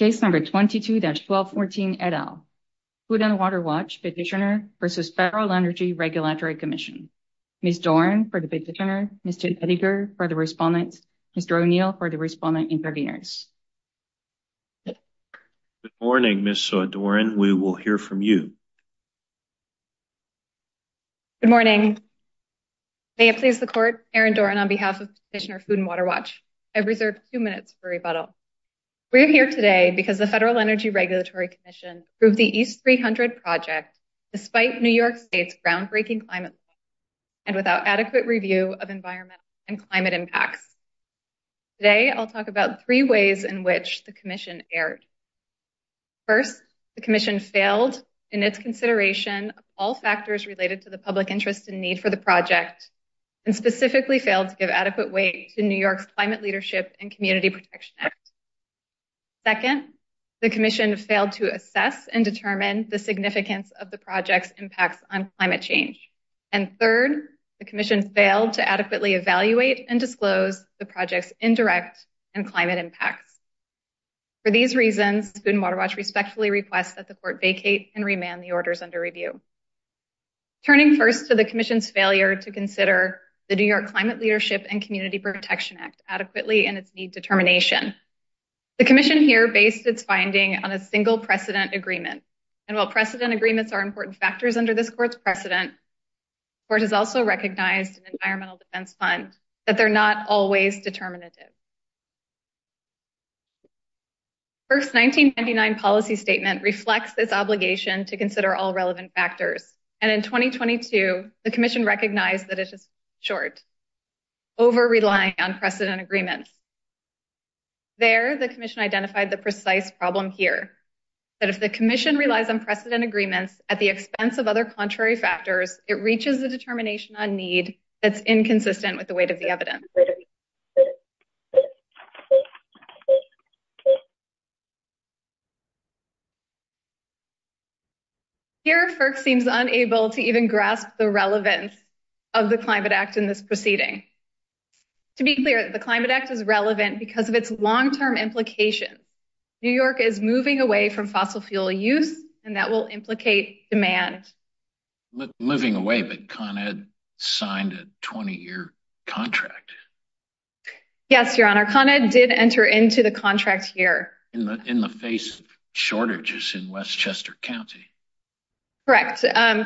22-1214 et al. Food & Water Watch Petitioner v. Federal Energy Regulatory Commission Ms. Doran for the Petitioner, Mr. Edinger for the Respondent, Mr. O'Neill for the Respondent Intervenors. Good morning Ms. Doran, we will hear from you. Good morning. May it please the Court, Aaron Doran on behalf of Petitioner Food & Water Watch. I've reserved two minutes for rebuttal. We are here today because the Federal Energy Regulatory Commission approved the EAST 300 project despite New York State's groundbreaking climate plan and without adequate review of environmental and climate impacts. Today I'll talk about three ways in which the Commission erred. First, the Commission failed in its consideration of all factors related to the public interest and need for the project and specifically failed to give adequate weight to New York's Climate Leadership and Community Protection Act. Second, the Commission failed to assess and determine the significance of the project's impacts on climate change. And third, the Commission failed to adequately evaluate and disclose the project's indirect and climate impacts. For these reasons, Food & Water Watch respectfully requests that the Court vacate and remand the orders under review. Turning first to the Commission's failure to consider the New York Climate Leadership and Community Protection Act adequately in its need determination. The Commission here based its finding on a single precedent agreement and while precedent agreements are important factors under this Court's precedent, the Court has also recognized in the Environmental Defense Fund that they're not always determinative. First, the 1999 policy statement reflects this obligation to consider all relevant factors and in 2022 the Commission recognized that it is short, over-relying on precedent agreements. There, the Commission identified the precise problem here, that if the Commission relies on precedent agreements at the expense of other contrary factors, it reaches the determination on need that's inconsistent with the weight of the evidence. Here, FERC seems unable to even grasp the relevance of the Climate Act in this proceeding. To be clear, the Climate Act is relevant because of its long-term implications. New York is moving away from fossil fuel use and that will implicate demand. Moving away, but Con Ed signed a 20-year contract. Yes, Your Honor. Con Ed did enter into the contract here. In the face of shortages in Westchester County. Correct.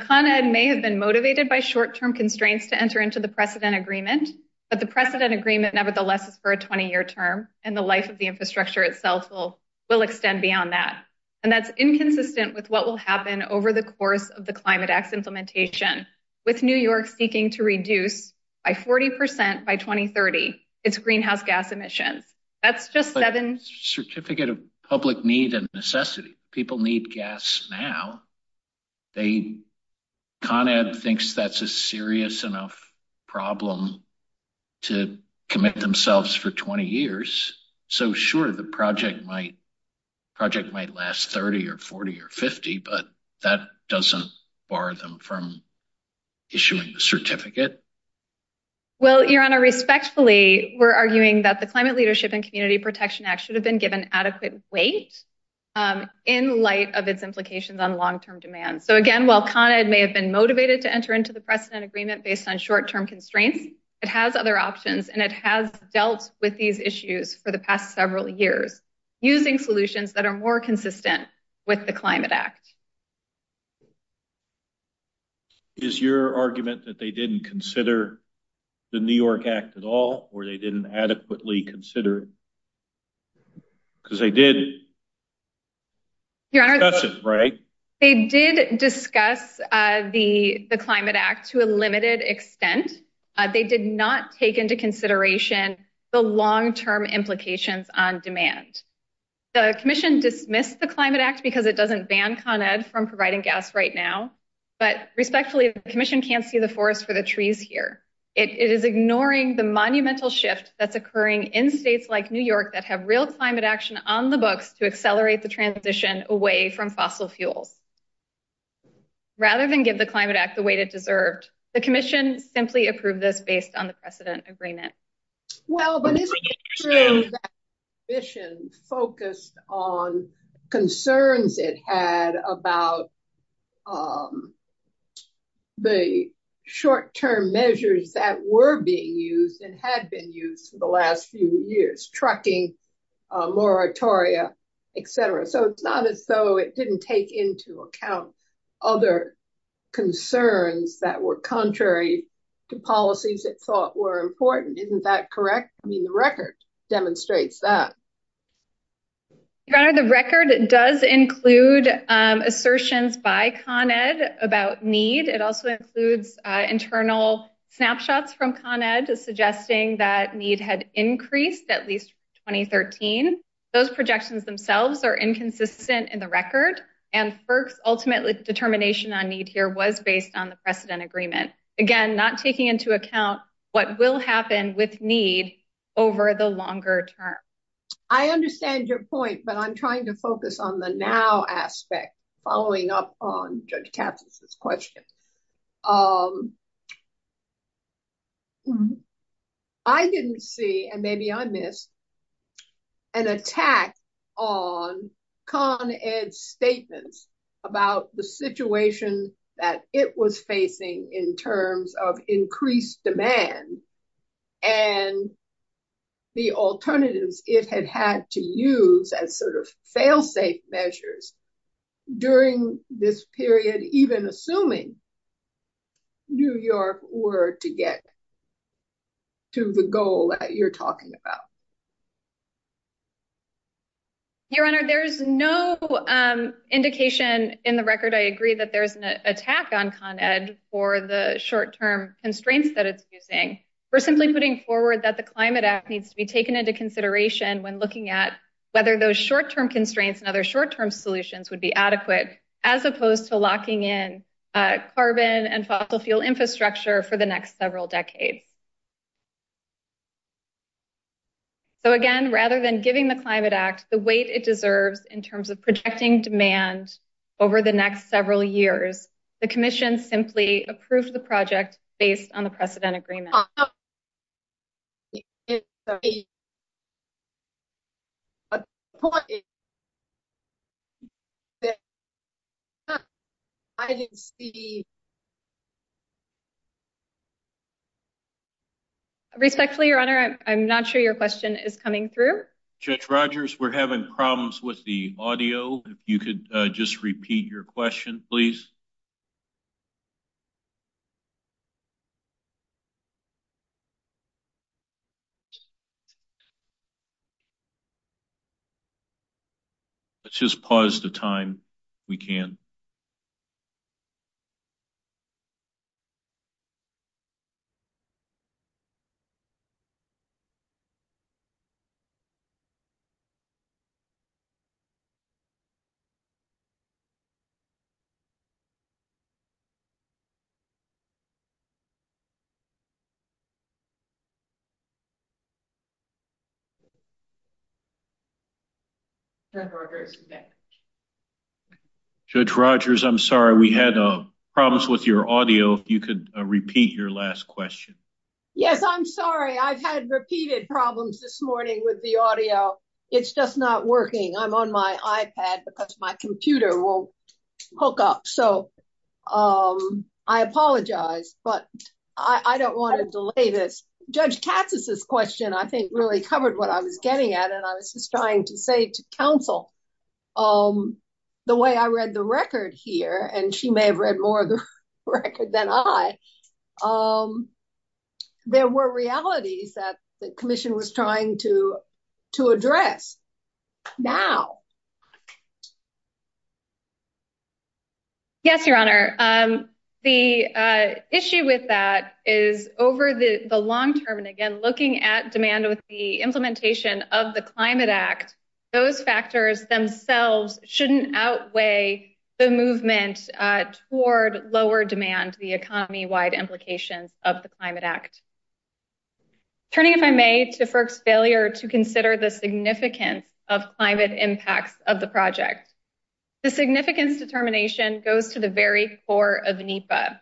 Con Ed may have been motivated by short-term constraints to enter into the precedent agreement, but the precedent agreement nevertheless is for a 20-year term and the life of the infrastructure itself will extend beyond that. And that's inconsistent with what will happen with the Climate Act's implementation, with New York seeking to reduce by 40% by 2030, its greenhouse gas emissions. That's just seven... Certificate of public need and necessity. People need gas now. They, Con Ed thinks that's a serious enough problem to commit themselves for 20 years. So sure, the project might last 30 or 40 or 50, but that doesn't bar them from issuing the certificate. Well, Your Honor, respectfully, we're arguing that the Climate Leadership and Community Protection Act should have been given adequate weight in light of its implications on long-term demand. So again, while Con Ed may have been motivated to enter into the precedent agreement based on short-term constraints, it has other options and it has dealt with these issues for the past several years using solutions that are more consistent with the Climate Act. Is your argument that they didn't consider the New York Act at all or they didn't adequately consider it? Because they did discuss it, right? They did not take into consideration the long-term implications on demand. The commission dismissed the Climate Act because it doesn't ban Con Ed from providing gas right now, but respectfully, the commission can't see the forest for the trees here. It is ignoring the monumental shift that's occurring in states like New York that have real climate action on the books to accelerate the transition away from fossil fuels. Rather than give the Climate Act the weight it deserved, the commission simply approved this based on the precedent agreement. Well, but isn't it true that the commission focused on concerns it had about the short-term measures that were being used and had been used for the last few years, trucking, moratoria, etc.? So it's not as though it didn't take into account other concerns that were contrary to policies it thought were important. Isn't that correct? I mean, the record demonstrates that. Your Honor, the record does include assertions by Con Ed about need. It also includes internal snapshots from Con Ed suggesting that need had increased at least 2013. Those projections themselves are inconsistent in the record, and FERC's ultimate determination on need here was based on the precedent agreement. Again, not taking into account what will happen with need over the longer term. I understand your point, but I'm trying to focus on the now aspect, following up on Judge Capsos's question. I didn't see, and maybe I missed, an attack on Con Ed's statements about the situation that it was facing in terms of increased demand and the alternatives it had had to use as sort of fail-safe measures during this period, even assuming New York were to get to the goal that you're talking about. Your Honor, there's no indication in the record, I agree, that there's an attack on Con Ed for the short-term constraints that it's using. We're simply putting forward that the Climate Act needs to be taken into consideration when looking at whether those short-term constraints and other short-term solutions would be adequate as opposed to locking in carbon and fossil fuel infrastructure for the next several decades. So again, rather than giving the Climate Act the weight it deserves in terms of projecting demand over the next several years, the Commission simply approved the project based on the precedent agreement. Respectfully, Your Honor, I'm not sure your question is coming through. Judge Rogers, we're having problems with the audio. If you could just repeat your question, please. Let's just pause the time if we can. Judge Rogers, I'm sorry, we had problems with your audio. If you could repeat your last question. Yes, I'm sorry. I've had repeated problems this morning with the audio. It's just not working. I'm on my iPad because my computer won't hook up. So I apologize, but I don't want to delay this. Judge Katz's question, I think, really covered what I was getting at. And I was just trying to say to counsel, the way I read the record here, and she may have read more of the record than I, there were realities that the Commission was trying to address now. Yes, Your Honor. The issue with that is over the long term, and again, looking at demand with the implementation of the Climate Act, those factors themselves shouldn't outweigh the movement toward lower demand, the economy-wide implications of the Climate Act. Turning, if I may, to FERC's project. The significance determination goes to the very core of NEPA.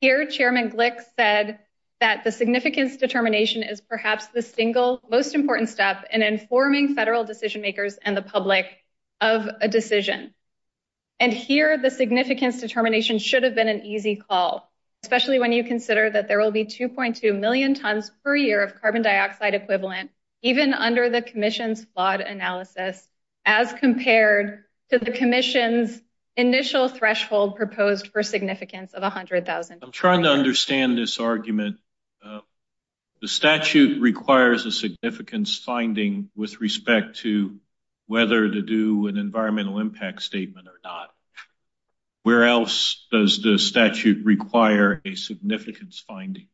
Here, Chairman Glick said that the significance determination is perhaps the single most important step in informing federal decision-makers and the public of a decision. And here, the significance determination should have been an easy call, especially when you consider that there will be 2.2 million tons per year of carbon dioxide equivalent, even under the Commission's flawed analysis, as compared to the Commission's initial threshold proposed for significance of $100,000. I'm trying to understand this argument. The statute requires a significance finding with respect to whether to do an environmental impact statement or not. Where else does the statute require a significance finding?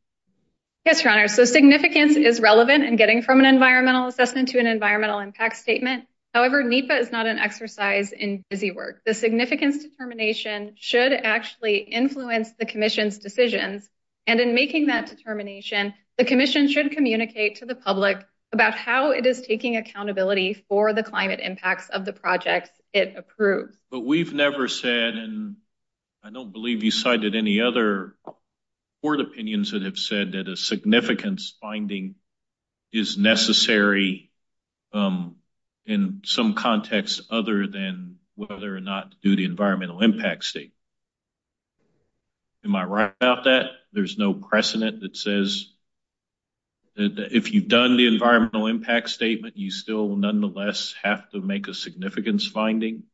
Yes, Your Honor. So significance is relevant in getting from an environmental assessment to an environmental impact statement. However, NEPA is not an exercise in busywork. The significance determination should actually influence the Commission's decisions, and in making that determination, the Commission should communicate to the public about how it is taking accountability for the climate impacts of the projects it approved. But we've never said, and I don't believe you cited any other court opinions that have said that a significance finding is necessary in some context other than whether or not to do the environmental impact statement. Am I right about that? There's no precedent that says if you've done the environmental impact statement, you still nonetheless have to make a significance finding?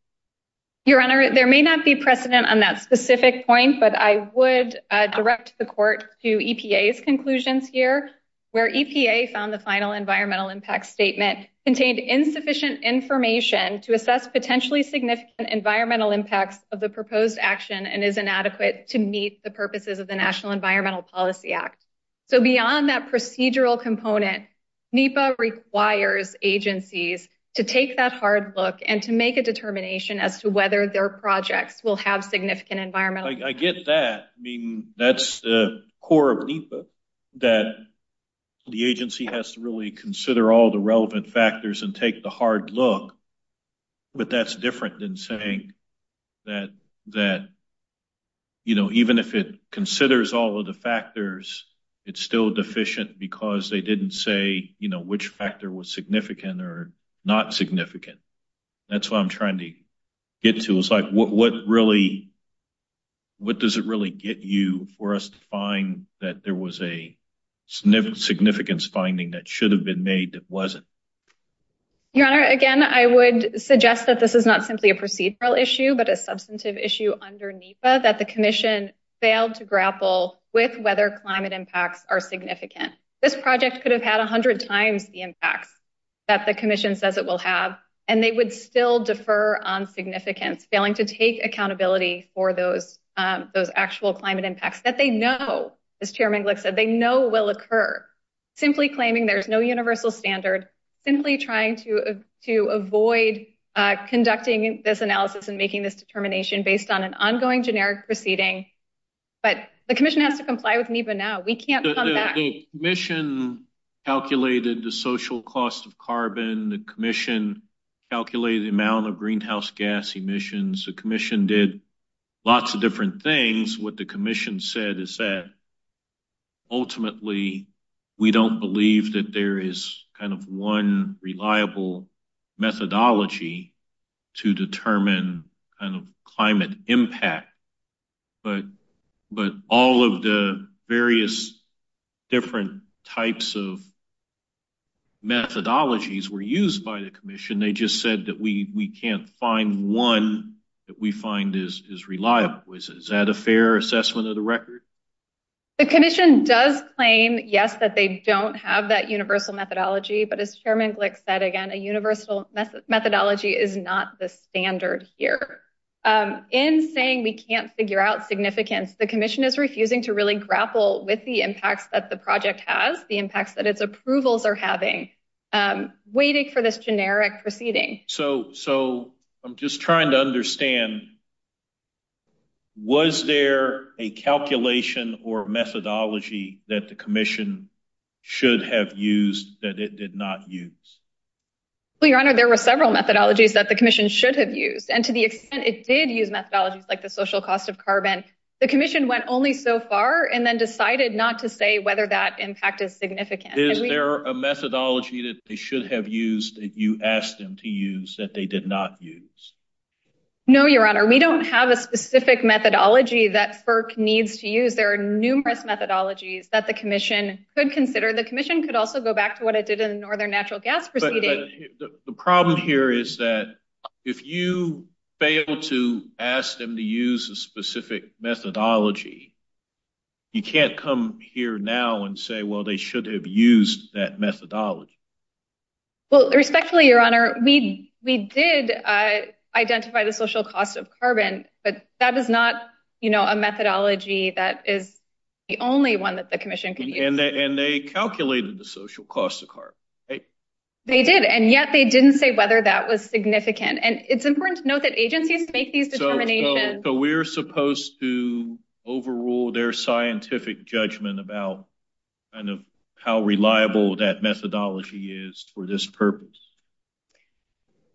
Your Honor, there may not be precedent on that specific point, but I would direct the Court to EPA's conclusions here, where EPA found the final environmental impact statement contained insufficient information to assess potentially significant environmental impacts of the proposed action and is inadequate to meet the purposes of the National Environmental Policy Act. So beyond that procedural component, NEPA requires agencies to take that hard look and to make a determination as to whether their projects will have significant environmental impacts. I get that. I mean, that's the core of NEPA, that the agency has to really consider all the relevant factors and take the hard look, but that's different than saying that even if it considers all of the factors, it's still deficient because they didn't say which factor was significant or not significant. That's what I'm trying to get to. It's like, what does it really get you for us to find that there was a significance finding that should have been made that wasn't? Your Honor, again, I would suggest that this is not simply a procedural issue, but a substantive issue under NEPA, that the Commission failed to grapple with whether climate impacts are significant. This project could have had 100 times the impacts that the Commission says it will have, and they would still defer on significance, failing to take accountability for those actual climate impacts that they know, as Chairman Glick said, they know will occur. Simply claiming there's no universal standard, simply trying to avoid conducting this analysis and making this determination based on an ongoing generic proceeding. But the Commission has to comply with NEPA now. We can't come back. The Commission calculated the social cost of carbon. The Commission calculated the amount of greenhouse gas emissions. The Commission did lots of different things. What the Commission said is that ultimately, we don't believe that there is kind of one reliable methodology to determine kind of climate impact. But all of the various different types of methodologies were used by the Commission. They just said that we can't find one that we find is reliable. Is that a fair assessment of the record? The Commission does claim, yes, that they don't have that universal methodology. But as Chairman Glick said, again, a universal methodology is not the standard here. In saying we can't figure out significance, the Commission is refusing to really grapple with the impacts that the project has, the impacts that its approvals are having, waiting for this generic proceeding. So I'm just trying to understand, was there a calculation or methodology that the Commission should have used that it did not use? Well, Your Honor, there were several methodologies that the Commission should have used. And to the extent it did use methodologies like the social cost of carbon, the Commission went only so far and then decided not to say whether that impact is significant. Is there a methodology that they should have used that you asked them to use that they did not use? No, Your Honor, we don't have a specific methodology that FERC needs to use. There are numerous methodologies that the Commission could consider. The Commission could also go back to what it did in the Northern Natural Gas Proceeding. But the problem here is that if you fail to ask them to use a specific methodology, you can't come here now and say, well, they should have used that methodology. Well, respectfully, Your Honor, we did identify the social cost of carbon, but that is not a methodology that the Commission could use. And they calculated the social cost of carbon. They did. And yet, they didn't say whether that was significant. And it's important to note that agencies make these determinations. So we're supposed to overrule their scientific judgment about kind of how reliable that methodology is for this purpose?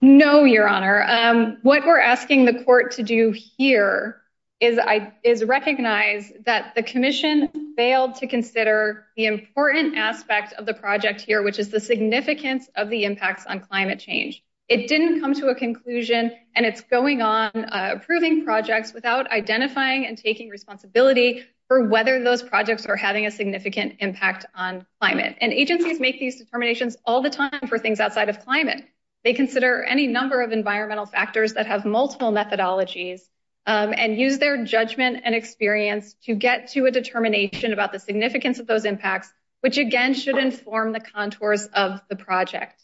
No, Your Honor. What we're asking the Court to do here is recognize that the Commission failed to consider the important aspect of the project here, which is the significance of the impacts on climate change. It didn't come to a conclusion. And it's going on approving projects without identifying and taking responsibility for whether those projects are having a significant impact on climate. And agencies make these determinations all the time for things outside of climate. They consider any number of environmental factors that have multiple methodologies and use their judgment and experience to get to a determination about the significance of those impacts, which, again, should inform the contours of the project.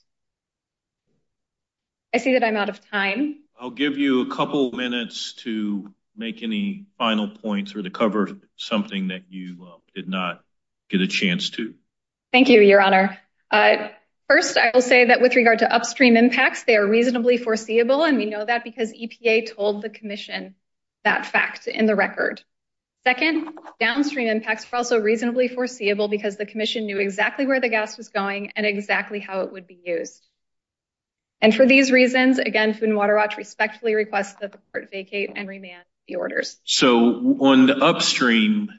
I see that I'm out of time. I'll give you a couple minutes to make any final points or to cover something that you did not get a chance to. Thank you, Your Honor. First, I will say that with regard to upstream that fact in the record. Second, downstream impacts were also reasonably foreseeable because the Commission knew exactly where the gas was going and exactly how it would be used. And for these reasons, again, Food and Water Watch respectfully requests that the Court vacate and remand the orders. So on the upstream,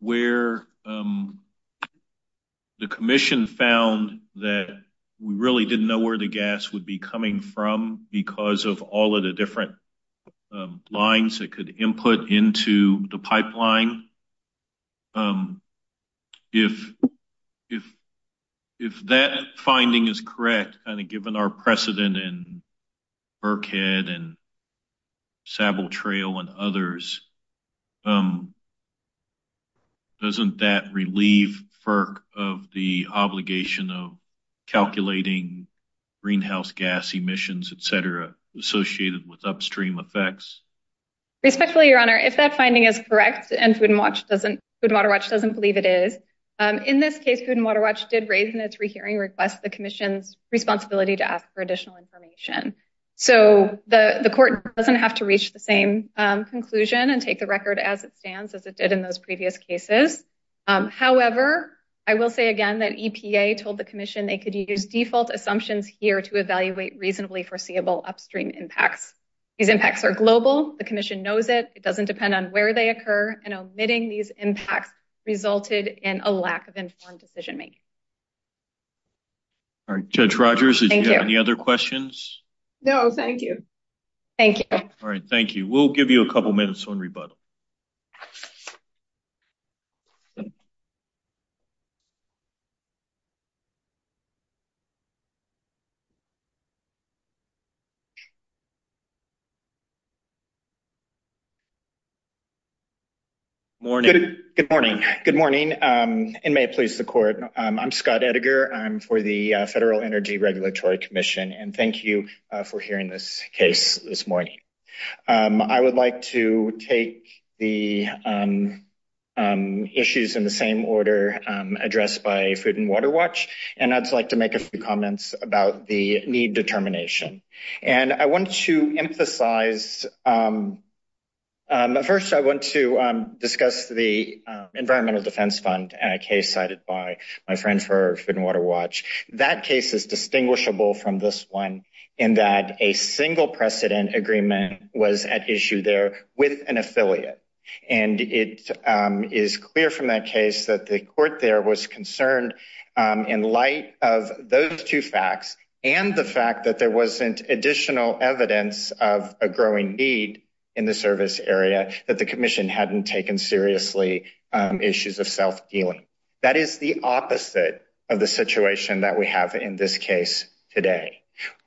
where the Commission found that we really didn't know where the gas would be coming from because of all of the different lines that could input into the pipeline, if that finding is correct, kind of given our precedent in calculating greenhouse gas emissions, et cetera, associated with upstream effects? Respectfully, Your Honor, if that finding is correct, and Food and Water Watch doesn't believe it is, in this case, Food and Water Watch did raise in its rehearing request the Commission's responsibility to ask for additional information. So the Court doesn't have to reach the same conclusion and take the record as it stands as it did in those previous cases. However, I will say again that EPA told the Commission they could use default assumptions here to evaluate reasonably foreseeable upstream impacts. These impacts are global. The Commission knows it. It doesn't depend on where they occur. And omitting these impacts resulted in a lack of informed decision-making. All right. Judge Rogers, did you have any other questions? No, thank you. Thank you. All right. Thank you. We'll give you a couple minutes on rebuttal. Good morning. Good morning, and may it please the Court. I'm Scott Edgar. I'm for the Federal Energy Regulatory Commission, and thank you for hearing this case this morning. I would like to take the issues in the same order addressed by Food and Water Watch, and I'd like to make a few comments about the need determination. First, I want to discuss the Environmental Defense Fund case cited by my friend for Food and Water Watch. That case is distinguishable from this one in that a single precedent agreement was at issue there with an affiliate, and it is clear from that case that the Court there was concerned in light of those two facts and the fact that there wasn't additional evidence of a growing need in the service area that the Commission hadn't taken seriously issues of self-dealing. That is the opposite of the situation that we have in this case today.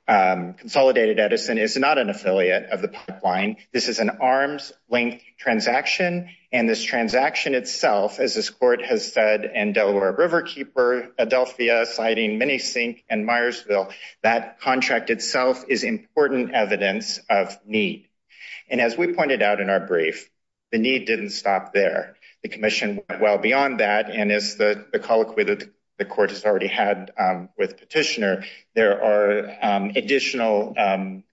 Consolidated Edison is not an affiliate of the pipeline. This is an arms-length transaction, and this transaction itself, as this Court has said, and Delaware Riverkeeper, Adelphia, Siding, Minisink, and Myersville, that contract itself is important evidence of need. And as we pointed out in our brief, the need didn't stop there. The Commission went well There are additional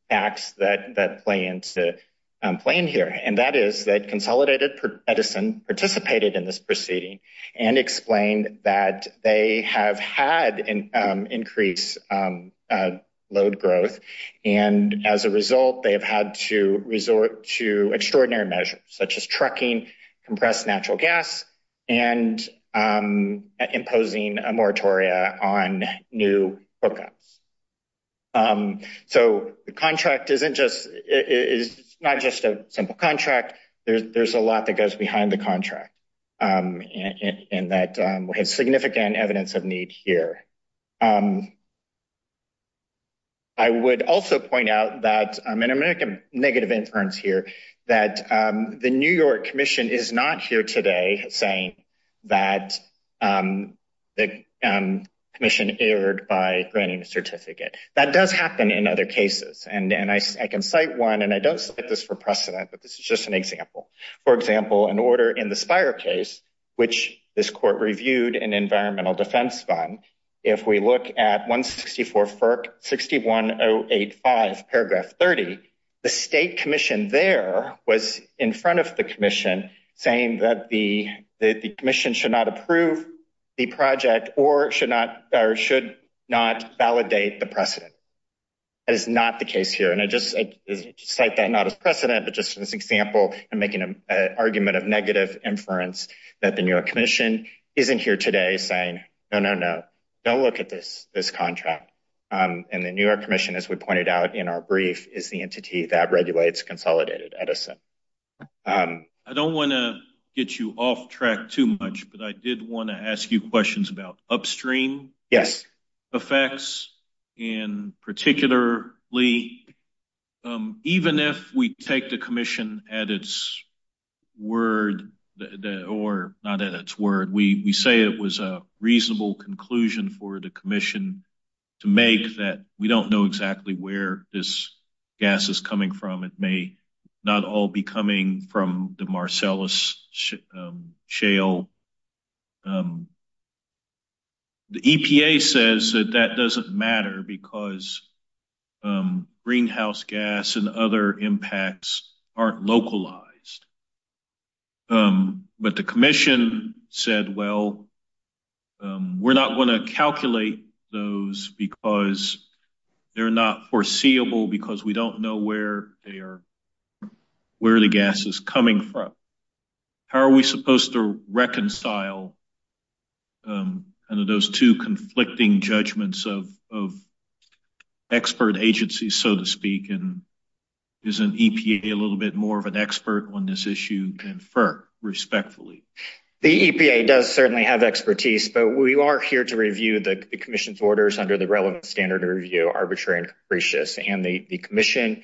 facts that play into the plan here, and that is that Consolidated Edison participated in this proceeding and explained that they have had increased load growth, and as a result, they have had to resort to extraordinary measures, such as trucking, compressed natural gas, and imposing a moratoria on new hookups. So the contract is not just a simple contract. There's a lot that goes behind the contract, and that has significant evidence of need here. I would also point out that, and I'm going to make a negative inference here, that the New York Commission is not here today saying that the Commission erred by granting a certificate. That does happen in other cases, and I can cite one, and I don't cite this for precedent, but this is just an example. For example, an order in the Spire case, which this Court reviewed in Environmental Defense Fund, if we look at 164 FERC 61085, paragraph 30, the State Commission there was in front of the Commission saying that the Commission should not approve the project or should not validate the precedent. That is not the case here, and I just cite that not as precedent, but just as an example. I'm making an argument of negative inference that the New York Commission isn't here today saying, no, no, no, don't look at this contract. And the New York Commission, as we pointed out in our brief, is the entity that regulates Consolidated Edison. I don't want to get you off track too much, but I did want to ask you questions about upstream effects, and particularly, even if we take the Commission at its word, or not at its word, we say it was a reasonable conclusion for the Commission to make that we don't know exactly where this gas is coming from. It may not all be coming from the Marcellus Shale. The EPA says that that doesn't matter because greenhouse gas and other impacts aren't localized. But the Commission said, well, we're not going to calculate those because they're not foreseeable because we don't know where the gas is coming from. How are we supposed to reconcile those two conflicting judgments of expert agency, so to speak? And is an EPA a little bit more of an expert on this issue? Confirm, respectfully. The EPA does certainly have expertise, but we are here to review the Commission's orders under the relevant standard of review, arbitrary and capricious. And the Commission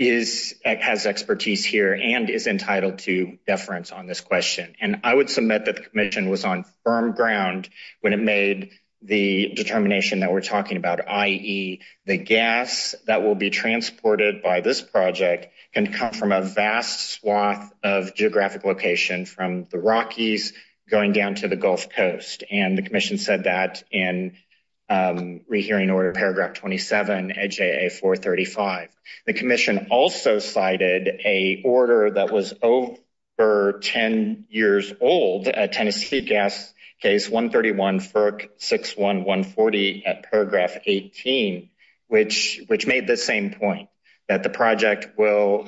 has expertise here and is entitled to deference on this question. And I would submit that the Commission was on firm ground when it made the determination that we're talking about, the gas that will be transported by this project can come from a vast swath of geographic location from the Rockies going down to the Gulf Coast. And the Commission said that in rehearing order paragraph 27 at J.A. 435. The Commission also cited a order that was over 10 years old at Tennessee Gas Case 131-61140 at paragraph 18, which made the same point, that the project will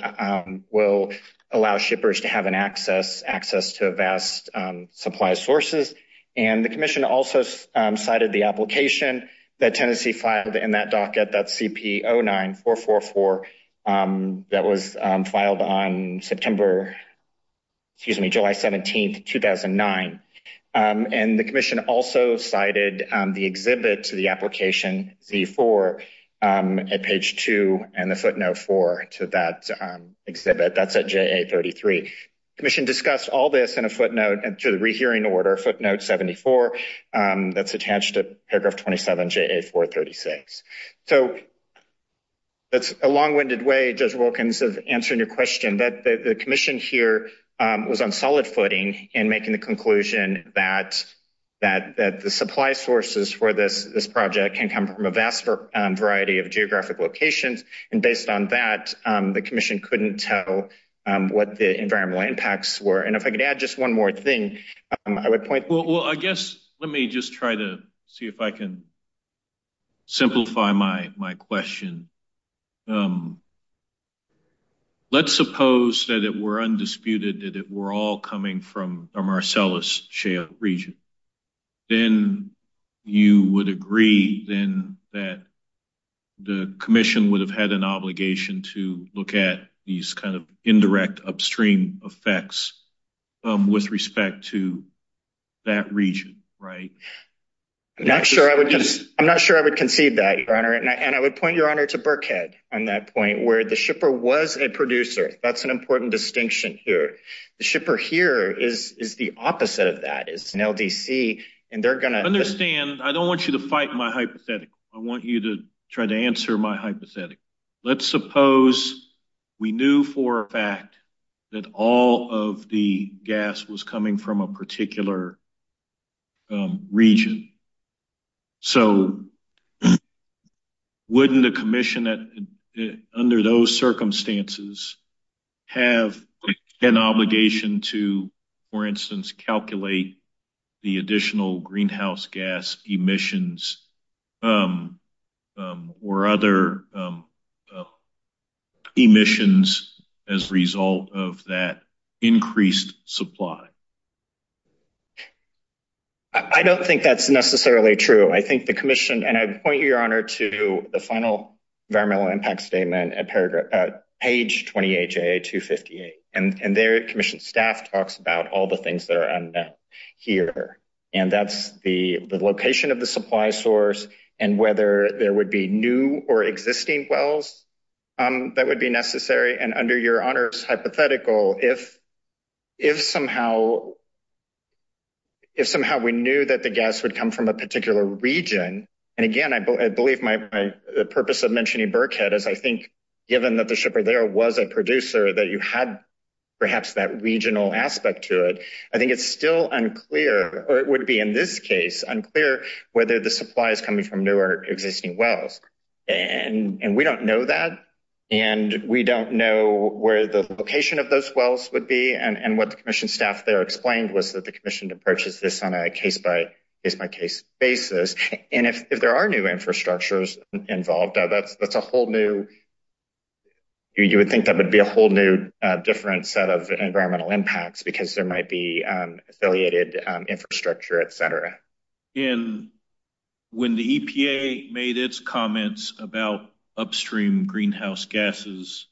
allow shippers to have access to vast supply sources. And the Commission also cited the application that Tennessee filed in that docket, that CP09444, that was filed on September, excuse me, July 17, 2009. And the Commission also cited the exhibit to the application Z4 at page 2 and the footnote 4 to that exhibit. That's at J.A. 33. The Commission discussed all this in a footnote to the rehearing order, footnote 74, that's attached to paragraph 27, J.A. 436. So that's a long-winded way, Judge Wilkins, of answering your question, that the Commission here was on solid footing in making the conclusion that the supply sources for this project can come from a vast variety of geographic locations. And based on that, the Commission couldn't tell what the environmental impacts were. And if I could add just one more thing, I would point... Well, I guess let me just try to see if I can simplify my question. Let's suppose that it were undisputed that it were all coming from the Marcellus Shale region. Then you would agree then that the Commission would have had an obligation to look at these indirect upstream effects with respect to that region, right? I'm not sure I would conceive that, Your Honor. And I would point, Your Honor, to Birkhead on that point, where the shipper was a producer. That's an important distinction here. The shipper here is the opposite of that. It's an LDC, and they're going to... Understand, I don't want you to fight my hypothetical. I want you to try to answer my hypothetical. Let's suppose we knew for a fact that all of the gas was coming from a particular region. So wouldn't the Commission, under those circumstances, have an obligation to, for instance, calculate the additional greenhouse gas emissions or other emissions as a result of that increased supply? I don't think that's necessarily true. I think the Commission, and I'd point you, Your Honor, to the final Environmental Impact Statement at page 28, J.A. 258. And there, the Commission staff talks about all the things that are unknown here. And that's the location of the supply source and whether there would be new or existing wells that would be necessary. And under Your Honor's hypothetical, if somehow we knew that the gas would come from a particular region, and again, I believe my purpose of mentioning Burkhead is, I think, given that the shipper there was a producer, that you had perhaps that regional aspect to it. I think it's still unclear, or it would be in this case unclear, whether the supply is coming from new or existing wells. And we don't know that. And we don't know where the location of those wells would be. And what the Commission staff there explained was that the Commission approaches this on a case-by-case basis. And if there are new infrastructures involved, that's a whole new, you would think that would be a whole new different set of environmental impacts because there might be affiliated infrastructure, et cetera. And when the EPA made its comments about upstream greenhouse gases,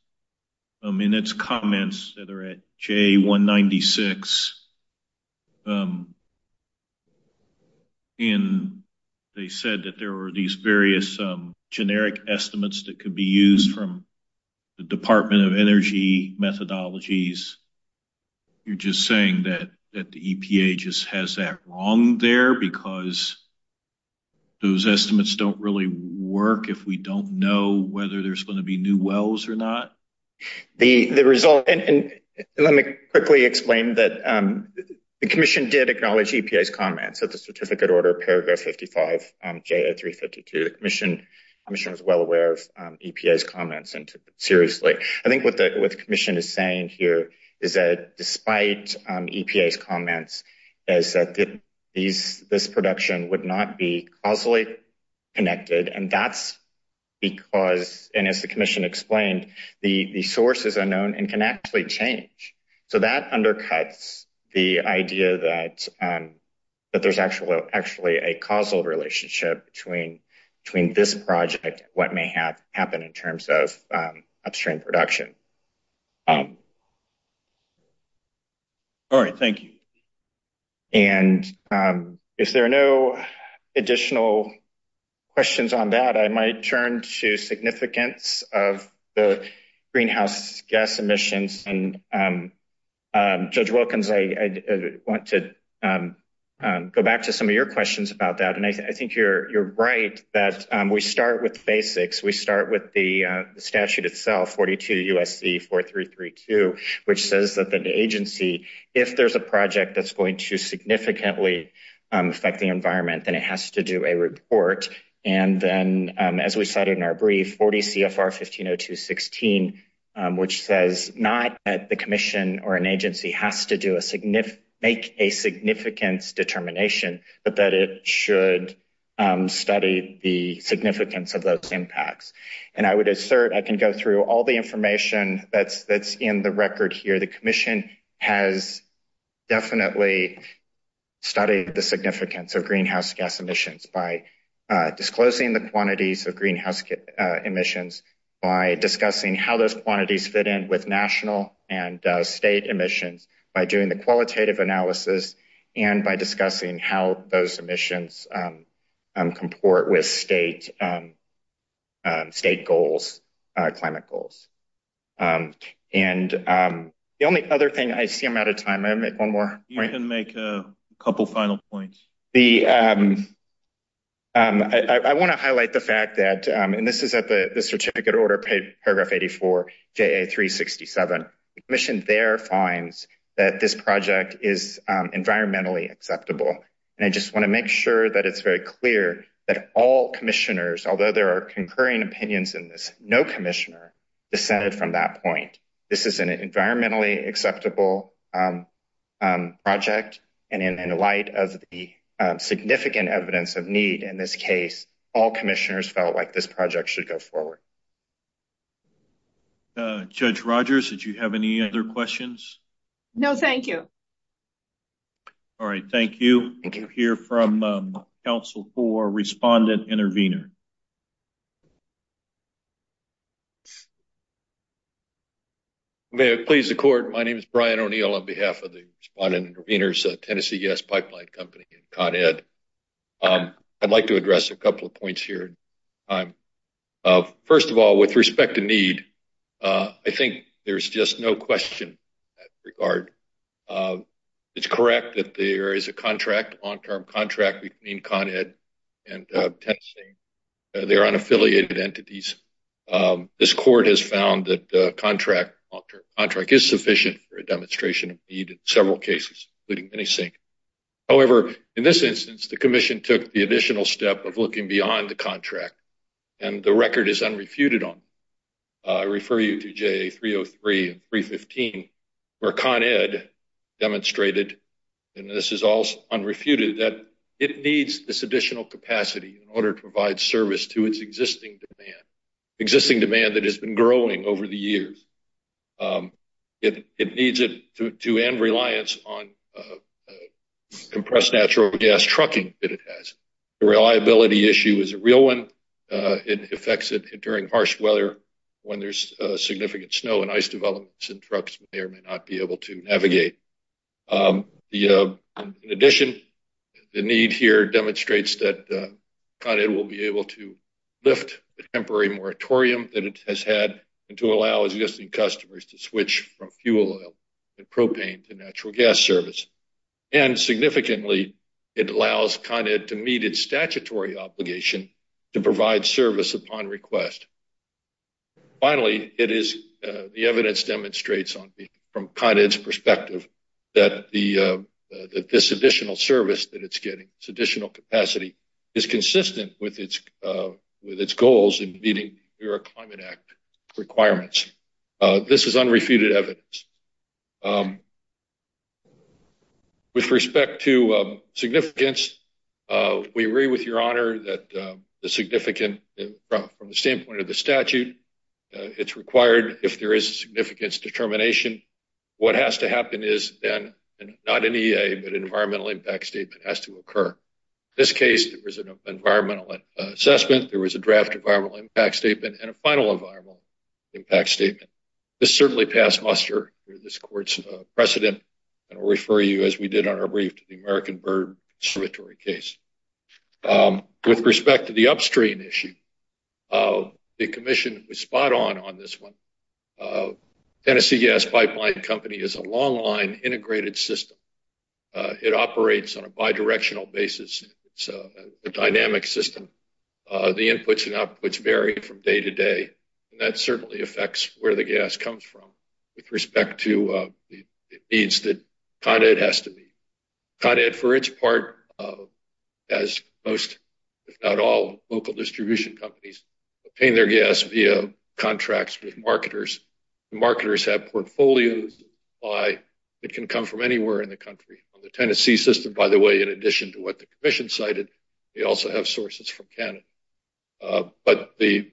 in its comments that are at J196, and they said that there were these various generic estimates that could be used from the Department of Energy methodologies, you're just saying that the EPA just has that wrong there because those estimates don't really work if we don't know whether there's going to be new wells or not? The result, and let me quickly explain that the Commission did acknowledge EPA's comments at the certificate order, paragraph 55, J0352. The Commission was well aware of EPA's comments and took it seriously. I think what the Commission is saying here is that despite EPA's comments, is that this production would not be causally connected. And that's because, and as the Commission explained, the source is unknown and can actually change. So that undercuts the idea that there's actually a causal relationship between this project and what may have happened in terms of upstream production. All right. Thank you. And if there are no additional questions on that, I might turn to significance of the greenhouse gas emissions. And Judge Wilkins, I want to go back to some of your questions about that. And I think you're right that we start with SC 4332, which says that the agency, if there's a project that's going to significantly affect the environment, then it has to do a report. And then as we cited in our brief, 40 CFR 150216, which says not that the Commission or an agency has to make a significance determination, but that it should study the significance of those impacts. And I would assert, I can go through all the information that's in the record here. The Commission has definitely studied the significance of greenhouse gas emissions by disclosing the quantities of greenhouse emissions, by discussing how those quantities fit in with national and state emissions, by doing the qualitative analysis, and by discussing how those emissions comport with state goals, climate goals. And the only other thing, I see I'm out of time. I have one more. You can make a couple final points. I want to highlight the fact that, and this is at the certificate order, paragraph 84, JA 367. The Commission there finds that this project is environmentally acceptable. And I want to make sure that it's very clear that all Commissioners, although there are concurring opinions in this, no Commissioner dissented from that point. This is an environmentally acceptable project. And in light of the significant evidence of need in this case, all Commissioners felt like this project should go forward. Judge Rogers, did you have any other questions? No, thank you. All right, thank you. We'll hear from Council for Respondent Intervenor. May I please the Court? My name is Brian O'Neill on behalf of the Respondent Intervenors, Tennessee Gas Pipeline Company and Con Ed. I'd like to address a couple of points here. First of all, with respect to need, I think there's just no question in that regard. It's correct that there is a contract, long-term contract, between Con Ed and Tennessee. They're unaffiliated entities. This Court has found that the contract, long-term contract, is sufficient for a demonstration of need in several cases, including many sinks. However, in this instance, the Commission took the additional step of looking beyond the contract, and the record is unrefuted on. I refer you to JA 303 and 315, where Con Ed demonstrated, and this is also unrefuted, that it needs this additional capacity in order to provide service to its existing demand, existing demand that has been growing over the years. It needs it to end reliance on compressed natural gas trucking that it has. The reliability issue is a real one. It affects it during harsh weather, when there's significant snow and ice developments, and trucks may or may not be able to navigate. In addition, the need here demonstrates that Con Ed will be able to lift the temporary moratorium that it has had, and to allow existing customers to switch from fuel oil and propane to statutory obligation to provide service upon request. Finally, the evidence demonstrates from Con Ed's perspective that this additional service that it's getting, this additional capacity, is consistent with its goals in meeting the Climate Act requirements. This is unrefuted evidence. With respect to significance, we agree with your honor that the significant, from the standpoint of the statute, it's required if there is a significance determination, what has to happen is then, not an EA, but an environmental impact statement has to occur. In this case, there was an environmental assessment, there was a draft environmental impact statement, and a final environmental impact statement. This certainly passed muster through this court's precedent, and I'll refer you, as we did on our brief, to the American Bird observatory case. With respect to the upstream issue, the commission was spot on on this one. Tennessee Gas Pipeline Company is a long-line integrated system. It operates on a bidirectional basis. It's a dynamic system. The inputs and outputs vary from day to day, and that certainly affects where the gas comes from with respect to the needs that Con Ed has to meet. Con Ed, for its part, has most, if not all, local distribution companies paying their gas via contracts with marketers. The marketers have portfolios that can come from anywhere in the country. The Tennessee system, by the way, in addition to what the commission cited, they also have sources from Canada. But the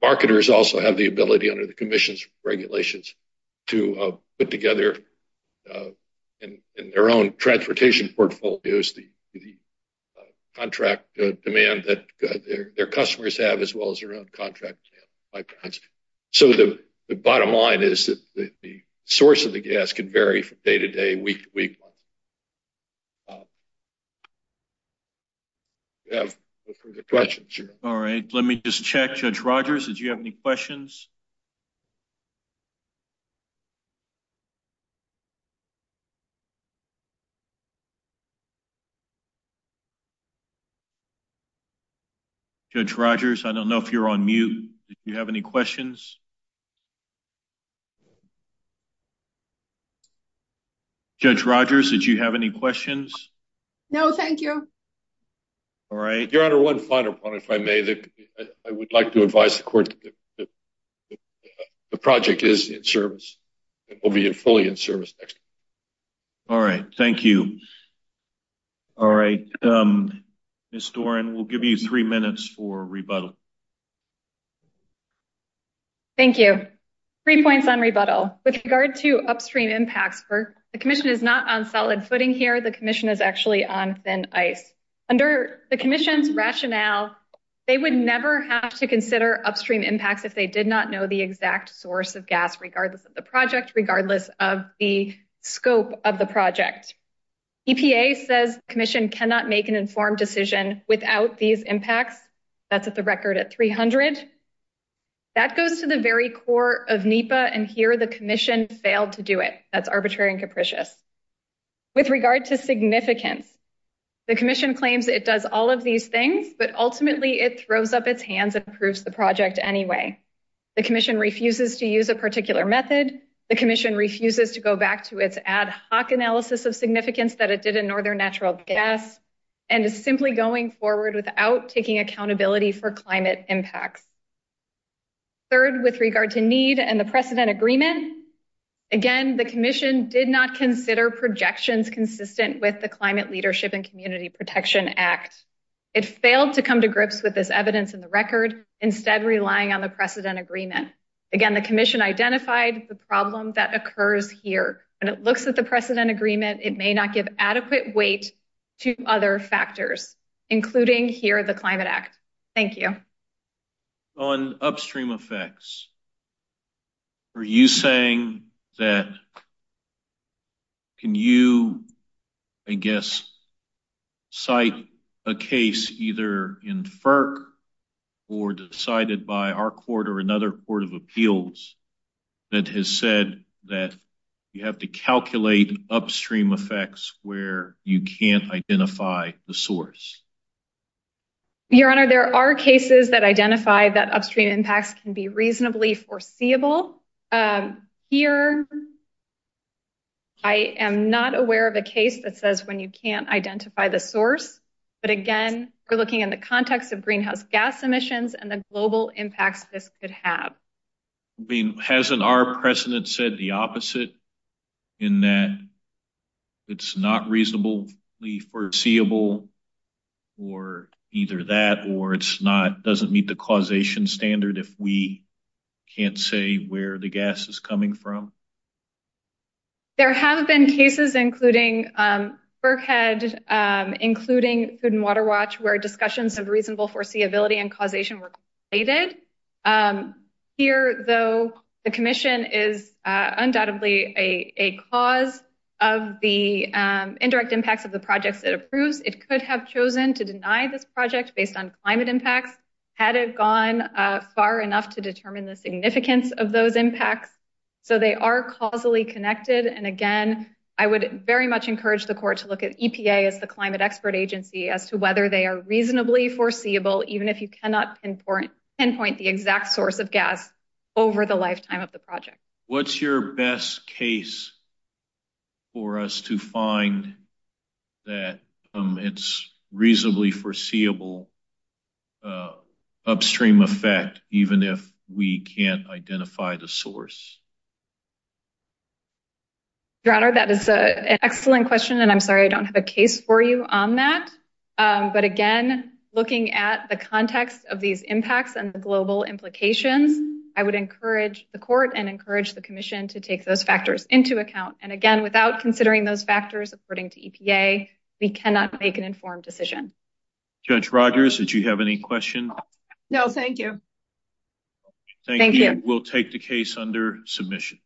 marketers also have the ability, under the commission's regulations, to put together, in their own transportation portfolios, the contract demand that their customers have, as well as their own contract pipelines. So the bottom line is that the source of the gas can vary from day to day, week to week. All right, let me just check. Judge Rogers, did you have any questions? Judge Rogers, I don't know if you're on mute. Did you have any questions? Judge Rogers, did you have any questions? No, thank you. All right. Your Honor, one final point, if I may. I would like to advise the Court the project is in service. It will be fully in service. All right, thank you. All right, Ms. Doran, we'll give you three minutes for rebuttal. Thank you. Three points on rebuttal. With regard to upstream impacts, the commission is not on solid footing here. The commission is actually on thin ice. Under the commission's rationale, they would never have to consider upstream impacts if they did not know the exact source of gas, regardless of the project, regardless of the scope of the project. EPA says the commission cannot make an informed decision without these impacts. That's at the record at 300. That goes to the very core of NEPA, and here the commission failed to do it. That's arbitrary and capricious. With regard to significance, the commission claims it does all of these things, but ultimately, it throws up its hands and approves the project anyway. The commission refuses to use a particular method. The commission refuses to go back to its ad hoc analysis of significance that it did in northern natural gas, and is simply going forward without taking accountability for climate impacts. Third, with regard to need and the precedent agreement, again, the commission did not consider projections consistent with the Climate Leadership and to come to grips with this evidence in the record, instead relying on the precedent agreement. Again, the commission identified the problem that occurs here. When it looks at the precedent agreement, it may not give adequate weight to other factors, including here the Climate Act. Thank you. On upstream effects, are you saying that can you, I guess, cite a case either in FERC or decided by our court or another court of appeals that has said that you have to calculate upstream effects where you can't identify the source? Your Honor, there are cases that identify that upstream impacts can be reasonably foreseeable. Here, I am not aware of a case that says when you can't identify the source, but again, we're looking in the context of greenhouse gas emissions and the global impacts this could have. Hasn't our precedent said the opposite in that it's not reasonably foreseeable or either that or it's not, doesn't meet the causation standard if we can't see where the gas is coming from? There have been cases, including FERC had, including Food and Water Watch, where discussions of reasonable foreseeability and causation were created. Here, though, the commission is undoubtedly a cause of the indirect impacts of the projects it approves. It could have chosen to deny this project based on climate impacts had it gone far enough to determine the significance of those impacts. So they are causally connected. And again, I would very much encourage the court to look at EPA as the climate expert agency as to whether they are reasonably foreseeable, even if you cannot pinpoint the exact source of gas over the lifetime of the project. What's your best case for us to find that it's reasonably foreseeable upstream effect, even if we can't identify the source? Your Honor, that is an excellent question, and I'm sorry I don't have a case for you on that. But again, looking at the context of these impacts and the global implications, I would encourage the court and encourage the commission to take those factors into account. And again, without considering those factors, according to EPA, we cannot make an informed decision. Judge Rogers, did you have any questions? No, thank you. Thank you. We'll take the case under submission.